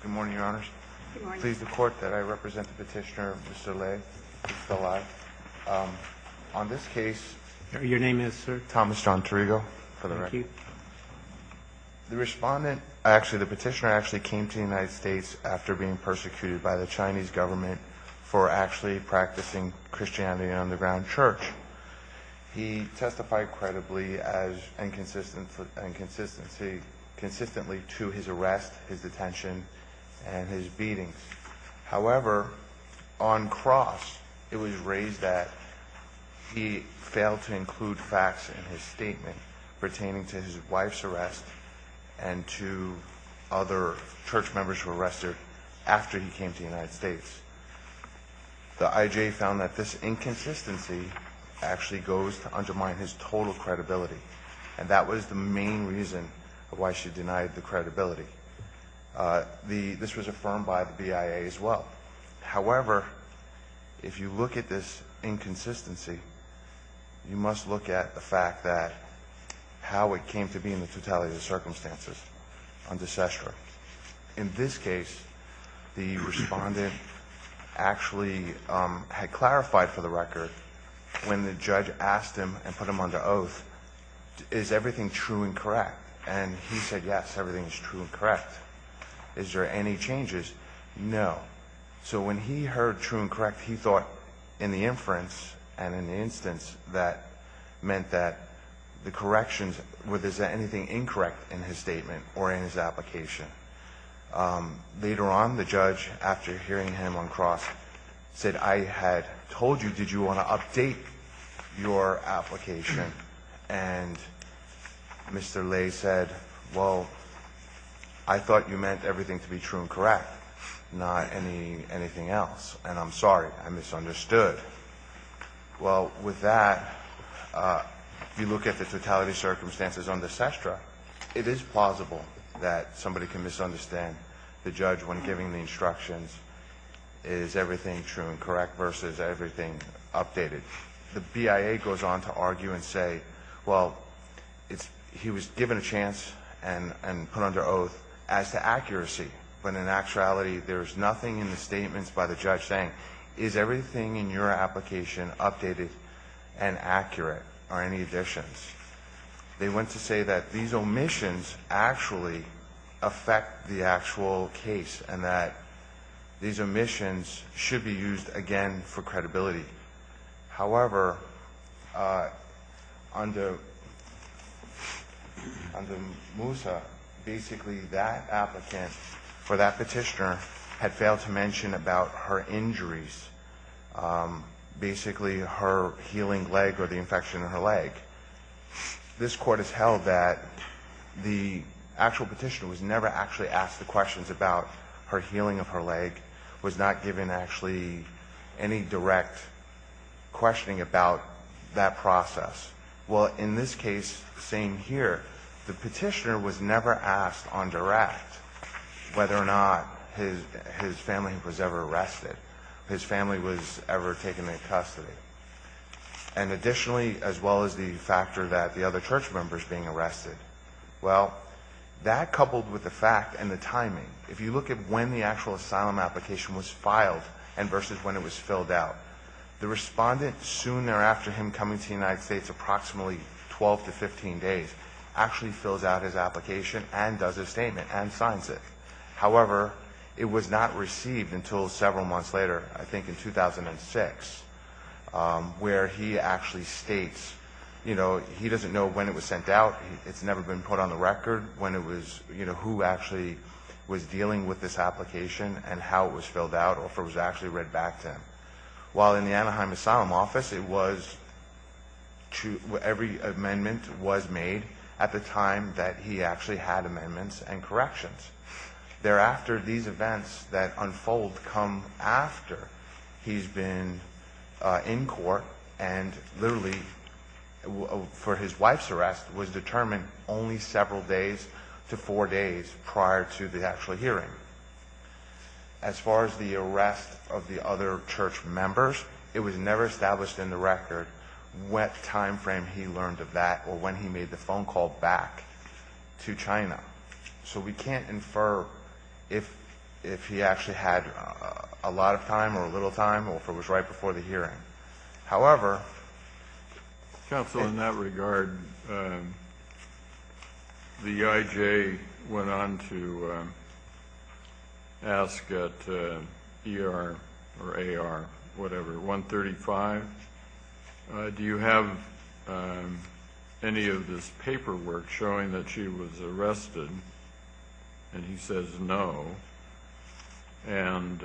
Good morning, Your Honors. Please the court that I represent the petitioner, Mr. Lai, on this case. Your name is, sir? Thomas John Tirigo, for the record. The respondent, actually the petitioner, actually came to the United States after being persecuted by the Chinese government for actually practicing Christianity in an underground church. He testified credibly and consistently to his arrest, his detention, and his beatings. However, on cross, it was raised that he failed to include facts in his statement pertaining to his wife's arrest and to other church members who were arrested after he came to the United States. The IJ found that this inconsistency actually goes to the, this was affirmed by the BIA as well. However, if you look at this inconsistency, you must look at the fact that how it came to be in the totality of the circumstances under CESTRA. In this case, the respondent actually had clarified for the record when the judge asked him and put him under oath, is everything true and correct? And he said, yes, everything is true and correct. Is there any changes? No. So when he heard true and correct, he thought in the inference and in the instance, that meant that the corrections, was there anything incorrect in his statement or in his application? Later on, the judge, after hearing him on cross, said, I had told you, did you want to update your application? And Mr. Lay said, well, I thought you meant everything to be true and correct, not anything else. And I'm sorry, I misunderstood. Well, with that, you look at the totality of circumstances under CESTRA, it is plausible that somebody can misunderstand the judge when giving the instructions, is everything true and correct versus everything updated? The BIA goes on to argue and say, well, he was given a chance and put under oath as to accuracy, but in actuality, there's nothing in the statements by the judge saying, is everything in your application updated and accurate? Are any additions? They went to say that these omissions actually affect the actual case and that these omissions should be used, again, for credibility. However, under Moussa, basically that applicant for that petitioner had failed to mention about her injuries, basically her healing leg or the infection in her leg. This Court has held that the actual petitioner was never actually asked the questions about her healing of her leg, was not given actually any direct questioning about that process. Well, in this case, same here, the petitioner was never asked on direct whether or not his family was ever arrested, his family was ever timing. If you look at when the actual asylum application was filed and versus when it was filled out, the respondent soon thereafter, him coming to the United States, approximately 12 to 15 days, actually fills out his application and does his statement and signs it. However, it was not received until several months later, I think in 2006, where he actually states, you know, he doesn't know when it was, who actually was dealing with this application and how it was filled out or if it was actually read back to him. While in the Anaheim Asylum Office, every amendment was made at the time that he actually had amendments and corrections. Thereafter, these events that unfold come after he's been in court and literally, for his wife's arrest, was determined only several days to four days prior to the actual hearing. As far as the arrest of the other church members, it was never established in the record what timeframe he learned of that or when he made the phone call back to China. So we can't infer if he actually had a lot of time or a little time or if it was right before the hearing. However... Counsel, in that regard, the IJ went on to ask at ER or AR, whatever, 135, do you have any of this paperwork showing that she was arrested? And he says no. And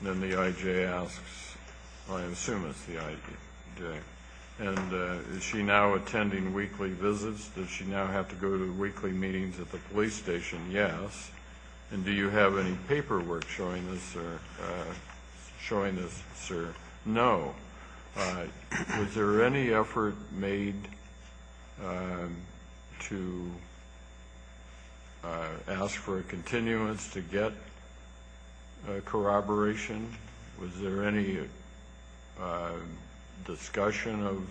then the IJ asks, I assume it's the IJ, and is she now attending weekly visits? Does she now have to go to weekly meetings at the police station? Yes. And do you have any paperwork showing this, sir? No. Was there any effort made to ask for a continuance to get corroboration? Was there any discussion of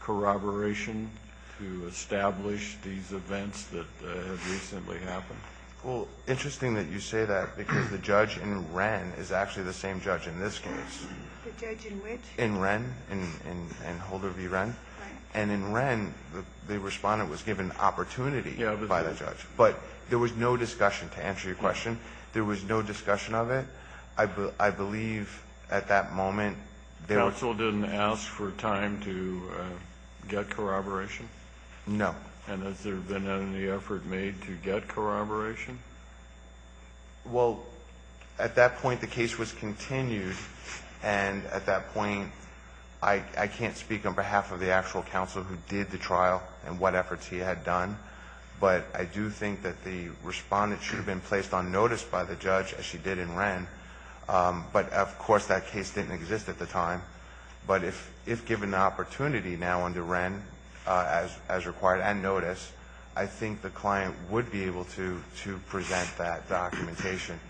corroboration to establish these events that have recently happened? Well, interesting that you say that, because the judge in Wren is actually the same judge in this case. The judge in which? In Wren, in Holder v. Wren. And in Wren, the respondent was given opportunity by the judge. But there was no discussion, to answer your question. There was no discussion of it. I believe at that moment... Counsel didn't ask for time to get corroboration? No. And has there been any effort made to get corroboration? Well, at that point, the case was continued. And at that point, I can't speak on behalf of the actual counsel who did the trial and what efforts he had done. But I do think that the respondent should have been placed on notice by the judge, as she did in Wren. But of course, that case didn't exist at the time. But if given the opportunity now under Wren, as required and notice, I think the client would be able to present that documentation.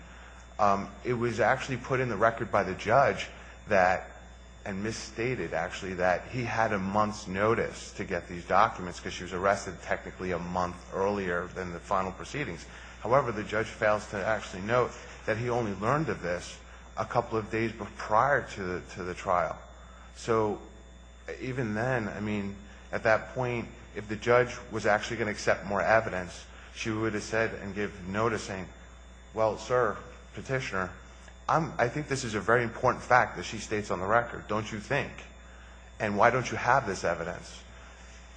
It was actually put in the record by the judge that, and misstated, actually, that he had a month's notice to get these documents, because she was arrested technically a month earlier than the final proceedings. However, the judge fails to actually note that he only learned of this a couple of days prior to the trial. So, even then, I mean, at that point, if the judge was actually going to accept more evidence, she would have said and given noticing, Well, sir, petitioner, I think this is a very important fact that she states on the record. Don't you think? And why don't you have this evidence?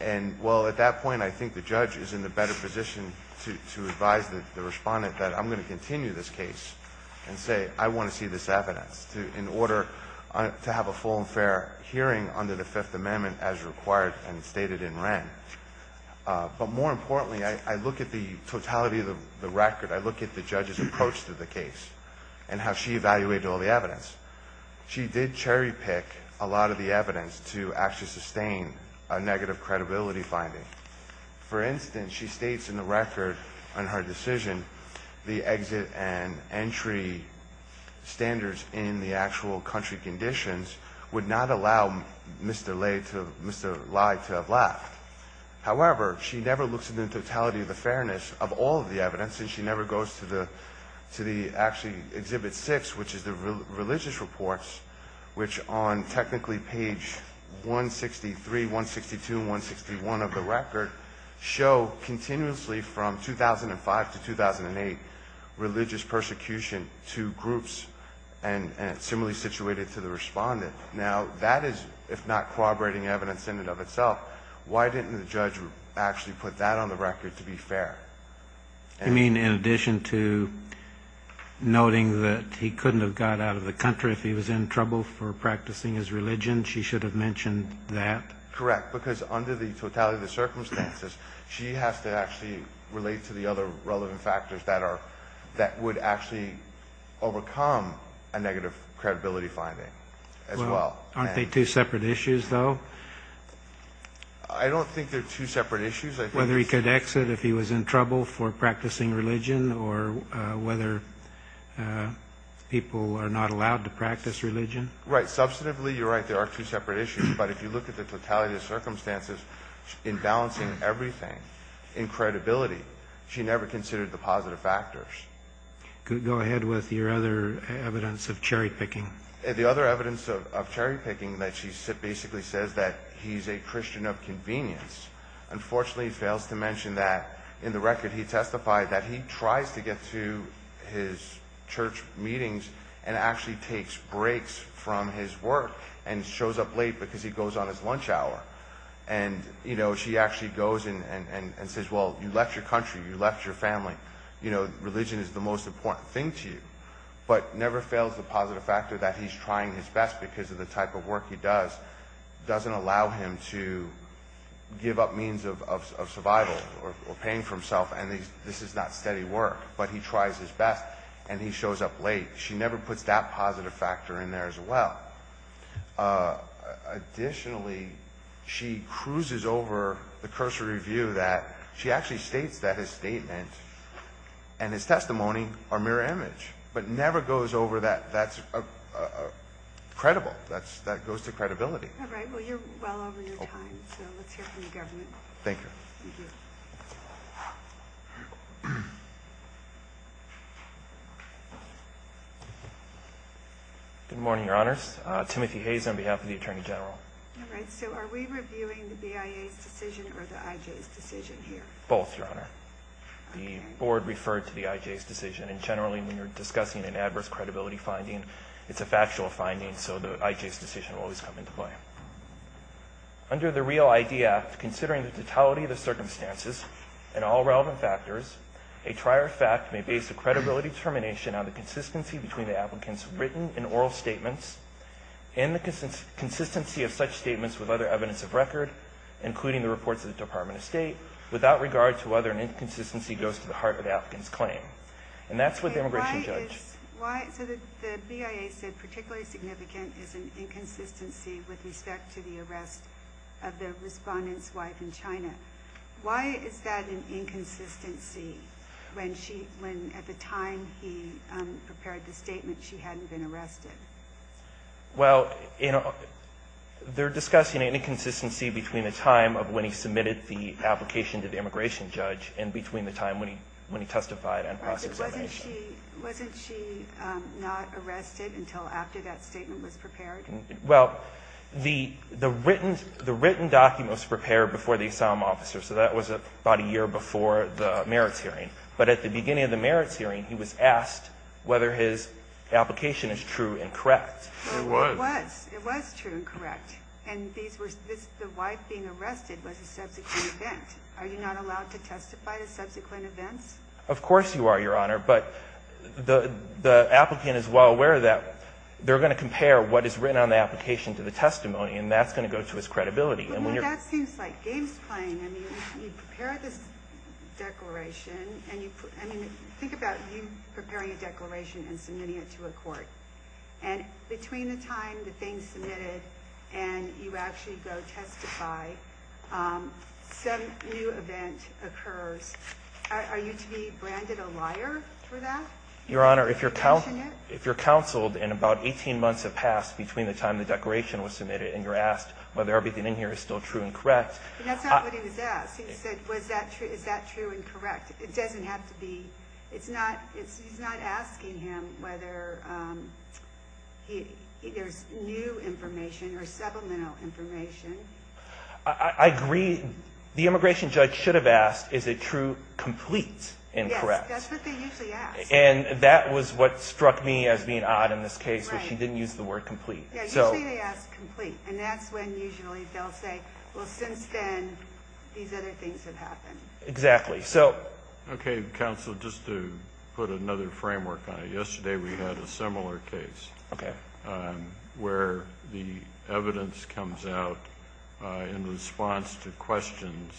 And, well, at that point, I think the judge is in a better position to advise the respondent that I'm going to continue this case and say, I want to see this evidence, in order to have a full and fair hearing under the Fifth Amendment as required and stated in Wren. But more importantly, I look at the totality of the record. I look at the judge's approach to the case and how she evaluated all the evidence. She did cherry-pick a lot of the evidence to actually sustain a negative credibility finding. For instance, she states in the record on her decision, the exit and entry standards in the actual country conditions would not allow Mr. Lye to have left. However, she never looks at the totality of the fairness of all of the evidence, and she never goes to the, actually, Exhibit 6, which is the religious reports, which on technically page 163, 162, and 161 of the record, show continuously from 2005 to 2008 religious persecution to groups, and it's similarly situated to the respondent. Now, that is, if not corroborating evidence in and of itself, why didn't the judge actually put that on the record to be fair? You mean in addition to noting that he couldn't have got out of the country if he was in trouble for practicing his religion? She should have mentioned that? Correct, because under the totality of the circumstances, she has to actually relate to the other relevant factors that would actually overcome a negative credibility finding as well. Aren't they two separate issues, though? I don't think they're two separate issues. Whether he could exit if he was in trouble for practicing religion, or whether people are not allowed to practice religion? Right. Substantively, you're right. There are two separate issues, but if you look at the totality of the circumstances, in balancing everything, in credibility, she never considered the positive factors. Go ahead with your other evidence of cherry-picking. The other evidence of cherry-picking that she basically says that he's a Christian of convenience. Unfortunately, he fails to mention that in the record he testified that he tries to get to his church meetings and actually takes breaks from his work and shows up late because he goes on his lunch hour. She actually goes and says, well, you left your country, you left your family, religion is the most important thing to you. But never fails the positive factor that he's trying his best because of the type of work he does doesn't allow him to give up means of survival or pain for himself, and this is not steady work. But he tries his best, and he shows up late. She never puts that positive factor in there as well. Additionally, she cruises over the cursory view that she actually states that his statement and his testimony are mirror image, but never goes over that that's credible, that goes to credibility. All right. Well, you're well over your time, so let's hear from the government. Thank you. Good morning, Your Honors. Timothy Hayes on behalf of the Attorney General. All right. So are we reviewing the BIA's decision or the IJ's decision here? Both, Your Honor. Okay. The board referred to the IJ's decision, and generally when you're discussing an adverse credibility finding, it's a factual finding, so the IJ's decision will always come into play. and all relevant factors. A trier fact may base a credibility determination on the consistency between the applicant's written and oral statements and the consistency of such statements with other evidence of record, including the reports of the Department of State, without regard to whether an inconsistency goes to the heart of the applicant's claim. And that's what the immigration judge. So the BIA said particularly significant is an inconsistency with respect to the arrest of the respondent's wife in China. Why is that an inconsistency when at the time he prepared the statement, she hadn't been arrested? Well, they're discussing an inconsistency between the time of when he submitted the application to the immigration judge and between the time when he testified and processed the information. Wasn't she not arrested until after that statement was prepared? Well, the written document was prepared before the asylum officer, so that was about a year before the merits hearing. But at the beginning of the merits hearing, he was asked whether his application is true and correct. It was. It was. It was true and correct. And the wife being arrested was a subsequent event. Are you not allowed to testify to subsequent events? Of course you are, Your Honor. But the applicant is well aware that they're going to compare what is written on the application to the testimony, and that's going to go to his credibility. Well, that seems like games playing. I mean, you prepare this declaration. I mean, think about you preparing a declaration and submitting it to a court. And between the time the thing's submitted and you actually go testify, some new event occurs. Are you to be branded a liar for that? Your Honor, if you're counseled and about 18 months have passed between the time the declaration was submitted and you're asked whether everything in here is still true and correct. But that's not what he was asked. He said, is that true and correct? It doesn't have to be. He's not asking him whether there's new information or subliminal information. I agree. The immigration judge should have asked, is it true, complete, and correct. Yes, that's what they usually ask. And that was what struck me as being odd in this case was she didn't use the word complete. Yeah, usually they ask complete. And that's when usually they'll say, well, since then, these other things have happened. Exactly. Okay, counsel, just to put another framework on it, yesterday we had a similar case. Okay. Where the evidence comes out in response to questions,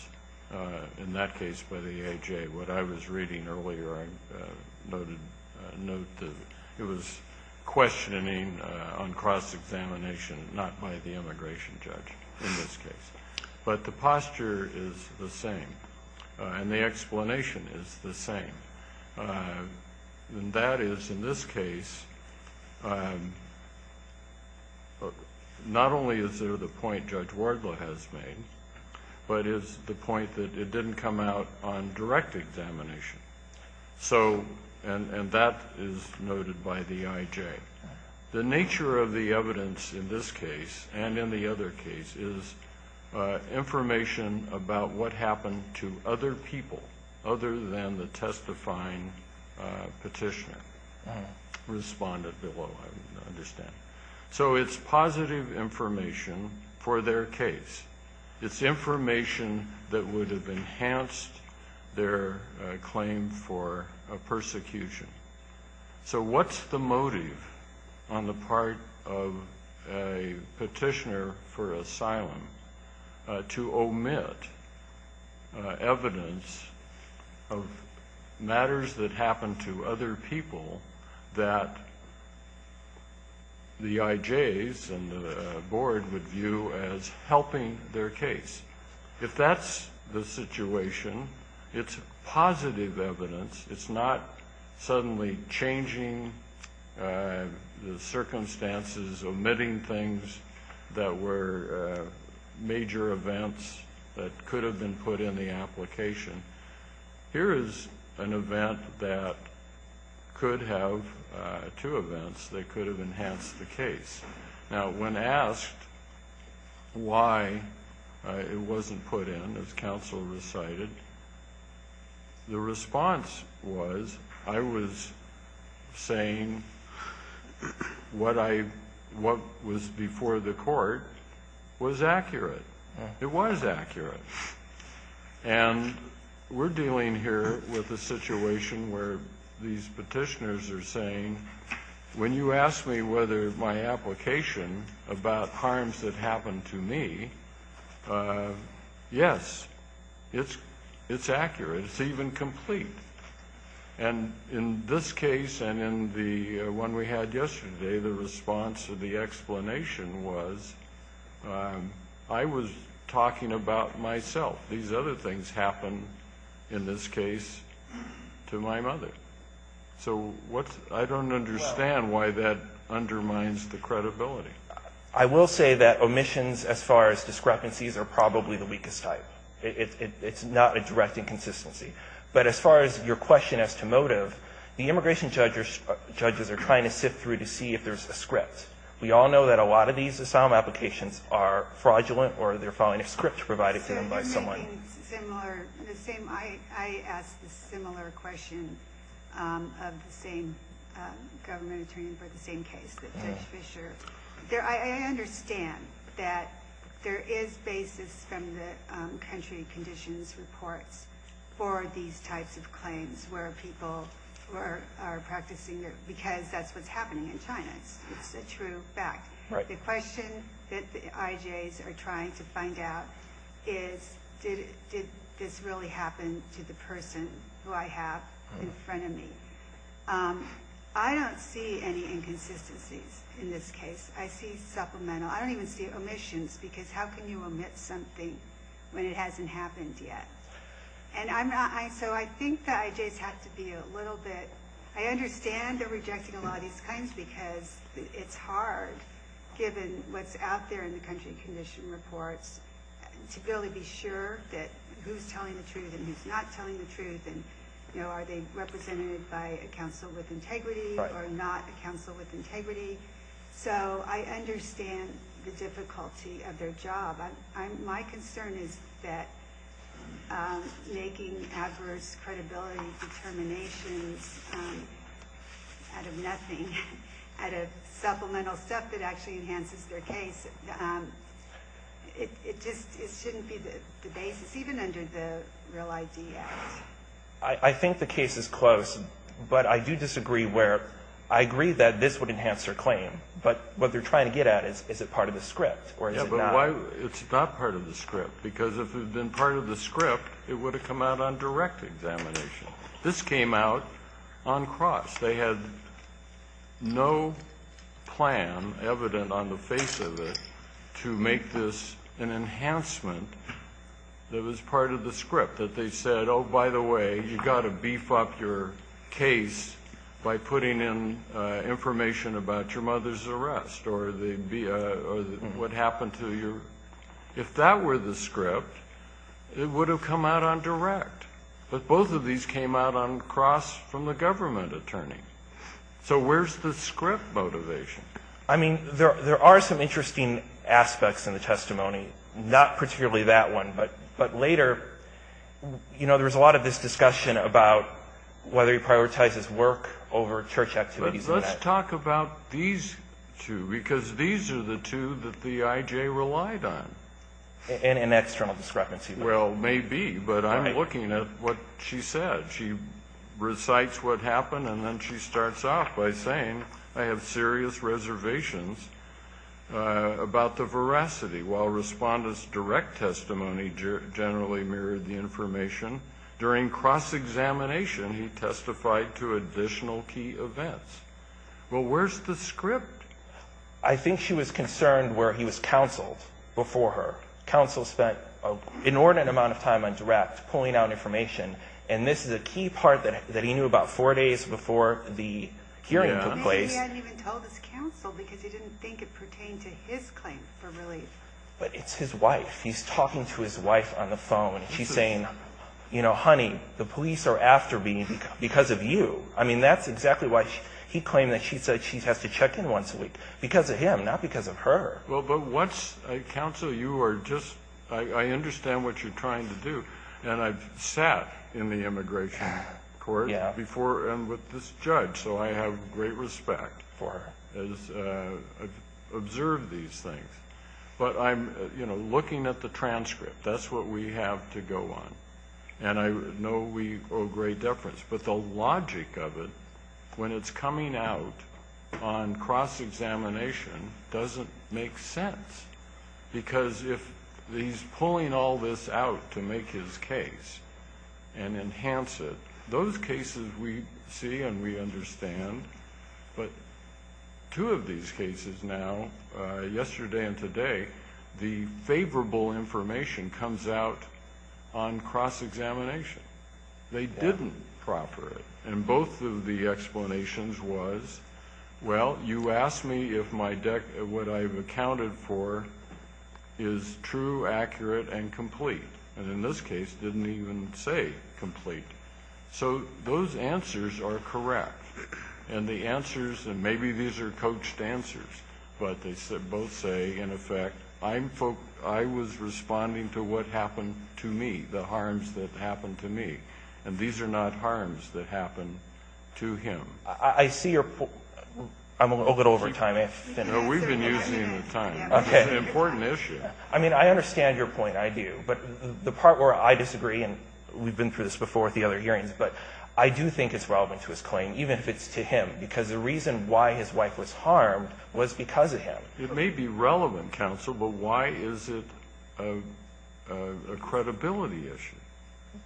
in that case by the AHA. What I was reading earlier, it was questioning on cross-examination, not by the immigration judge in this case. But the posture is the same. And the explanation is the same. And that is, in this case, not only is there the point Judge Wardlaw has made, but is the point that it didn't come out on direct examination. And that is noted by the IJ. The nature of the evidence in this case and in the other cases, information about what happened to other people other than the testifying petitioner responded below, I understand. So it's positive information for their case. It's information that would have enhanced their claim for persecution. So what's the motive on the part of a petitioner for asylum to omit evidence of matters that happened to other people that the IJs and the board would view as helping their case? If that's the situation, it's positive evidence. It's not suddenly changing the circumstances, omitting things that were major events that could have been put in the application. Here is an event that could have two events that could have enhanced the case. Now, when asked why it wasn't put in, as counsel recited, the response was, I was saying what was before the court was accurate. It was accurate. And we're dealing here with a situation where these petitioners are saying, when you ask me whether my application about harms that happened to me, yes, it's accurate. It's even complete. And in this case and in the one we had yesterday, the response of the explanation was, I was talking about myself. These other things happened in this case to my mother. So I don't understand why that undermines the credibility. I will say that omissions as far as discrepancies are probably the weakest type. It's not a direct inconsistency. But as far as your question as to motive, the immigration judges are trying to sift through to see if there's a script. We all know that a lot of these asylum applications are fraudulent or they're following a script provided to them by someone. I asked a similar question of the same government attorney for the same case, Judge Fisher. I understand that there is basis from the country conditions reports for these types of claims where people are practicing it, because that's what's happening in China. It's a true fact. The question that the IJs are trying to find out is, did this really happen to the person who I have in front of me? I don't see any inconsistencies in this case. I see supplemental. I don't even see omissions, because how can you omit something when it hasn't happened yet? So I think the IJs have to be a little bit – I understand they're rejecting a lot of these claims because it's hard, given what's out there in the country condition reports, to be able to be sure that who's telling the truth and who's not telling the truth and are they represented by a counsel with integrity or not a counsel with integrity. So I understand the difficulty of their job. My concern is that making adverse credibility determinations out of nothing, out of supplemental stuff that actually enhances their case, it shouldn't be the basis, even under the Real ID Act. I think the case is close, but I do disagree where – I agree that this would enhance their claim, but what they're trying to get at is, is it part of the script or is it not? Yeah, but why – it's not part of the script, because if it had been part of the script, it would have come out on direct examination. This came out on cross. They had no plan evident on the face of it to make this an enhancement that was part of the script, that they said, oh, by the way, you've got to beef up your case by putting in information about your mother's arrest or what happened to your – if that were the script, it would have come out on direct. But both of these came out on cross from the government attorney. So where's the script motivation? I mean, there are some interesting aspects in the testimony, not particularly that one, but later, you know, there was a lot of this discussion about whether he prioritizes work over church activities. Let's talk about these two, because these are the two that the I.J. relied on. An external discrepancy. Well, maybe, but I'm looking at what she said. She recites what happened, and then she starts off by saying, I have serious reservations about the veracity. While Respondent's direct testimony generally mirrored the information, during cross-examination, he testified to additional key events. Well, where's the script? I think she was concerned where he was counseled before her. Counsel spent an inordinate amount of time on direct, pulling out information, and this is a key part that he knew about four days before the hearing took place. Maybe he hadn't even told his counsel because he didn't think it pertained to his claim for relief. But it's his wife. He's talking to his wife on the phone. She's saying, you know, honey, the police are after me because of you. I mean, that's exactly why he claimed that she said she has to check in once a week, because of him, not because of her. Well, but what's, counsel, you are just, I understand what you're trying to do, and I've sat in the immigration court before and with this judge, so I have great respect for her as I've observed these things. But I'm, you know, looking at the transcript. That's what we have to go on. And I know we owe great deference. But the logic of it, when it's coming out on cross-examination, doesn't make sense. Because if he's pulling all this out to make his case and enhance it, those cases we see and we understand. But two of these cases now, yesterday and today, the favorable information comes out on cross-examination. They didn't proper it. And both of the explanations was, well, you asked me if what I've accounted for is true, accurate, and complete. And in this case, it didn't even say complete. So those answers are correct. And the answers, and maybe these are coached answers, but they both say, in effect, I was responding to what happened to me, the harms that happened to me. And these are not harms that happened to him. I see your point. I'm a little over time. No, we've been using the time. It's an important issue. I mean, I understand your point, I do. But the part where I disagree, and we've been through this before at the other hearings, but I do think it's relevant to his claim, even if it's to him. Because the reason why his wife was harmed was because of him. It may be relevant, counsel, but why is it a credibility issue?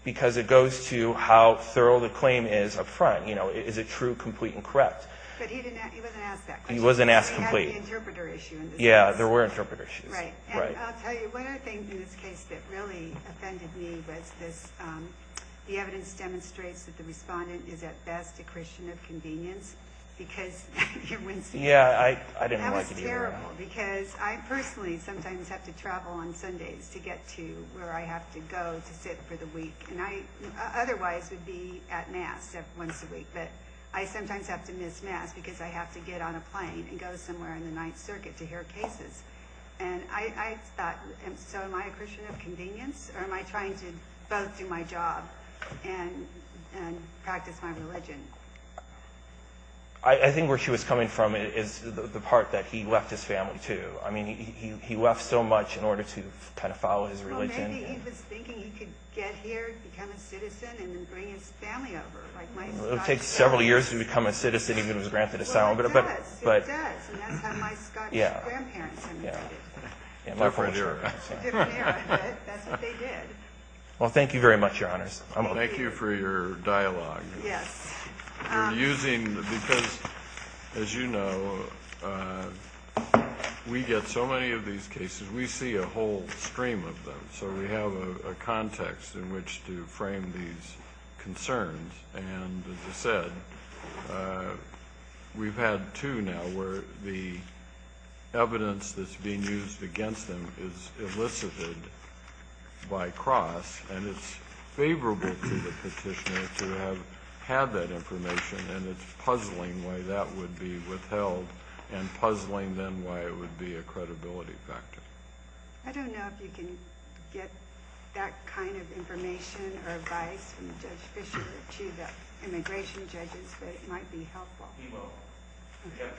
Because it goes to how thorough the claim is up front. Is it true, complete, and correct? But he wasn't asked that question. He wasn't asked complete. He had the interpreter issue in this case. Yeah, there were interpreter issues. Right. And I'll tell you, one of the things in this case that really offended me was this. The evidence demonstrates that the respondent is, at best, a Christian of convenience. Because you wouldn't see that. Yeah, I didn't like it either. That was terrible. Because I personally sometimes have to travel on Sundays to get to where I have to go to sit for the week. And I otherwise would be at Mass once a week. But I sometimes have to miss Mass because I have to get on a plane and go somewhere in the Ninth Circuit to hear cases. And I thought, so am I a Christian of convenience? Or am I trying to both do my job and practice my religion? I think where she was coming from is the part that he left his family, too. I mean, he left so much in order to kind of follow his religion. Well, maybe he was thinking he could get here, become a citizen, and then bring his family over. It would take several years to become a citizen even if it was granted asylum. Well, it does. It does. And that's how my Scottish grandparents immigrated. Different era. Different era. But that's what they did. Well, thank you very much, Your Honors. Thank you for your dialogue. Yes. You're using because, as you know, we get so many of these cases. We see a whole stream of them. So we have a context in which to frame these concerns. And, as you said, we've had two now where the evidence that's being used against them is elicited by cross, and it's favorable to the petitioner to have had that information, and it's puzzling why that would be withheld and puzzling then why it would be a credibility factor. I don't know if you can get that kind of information or advice from Judge Fischer to the immigration judges, but it might be helpful. We will. We have training.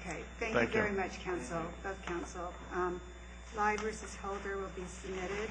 Okay. Thank you very much, counsel, both counsel. Lye v. Holder will be submitted.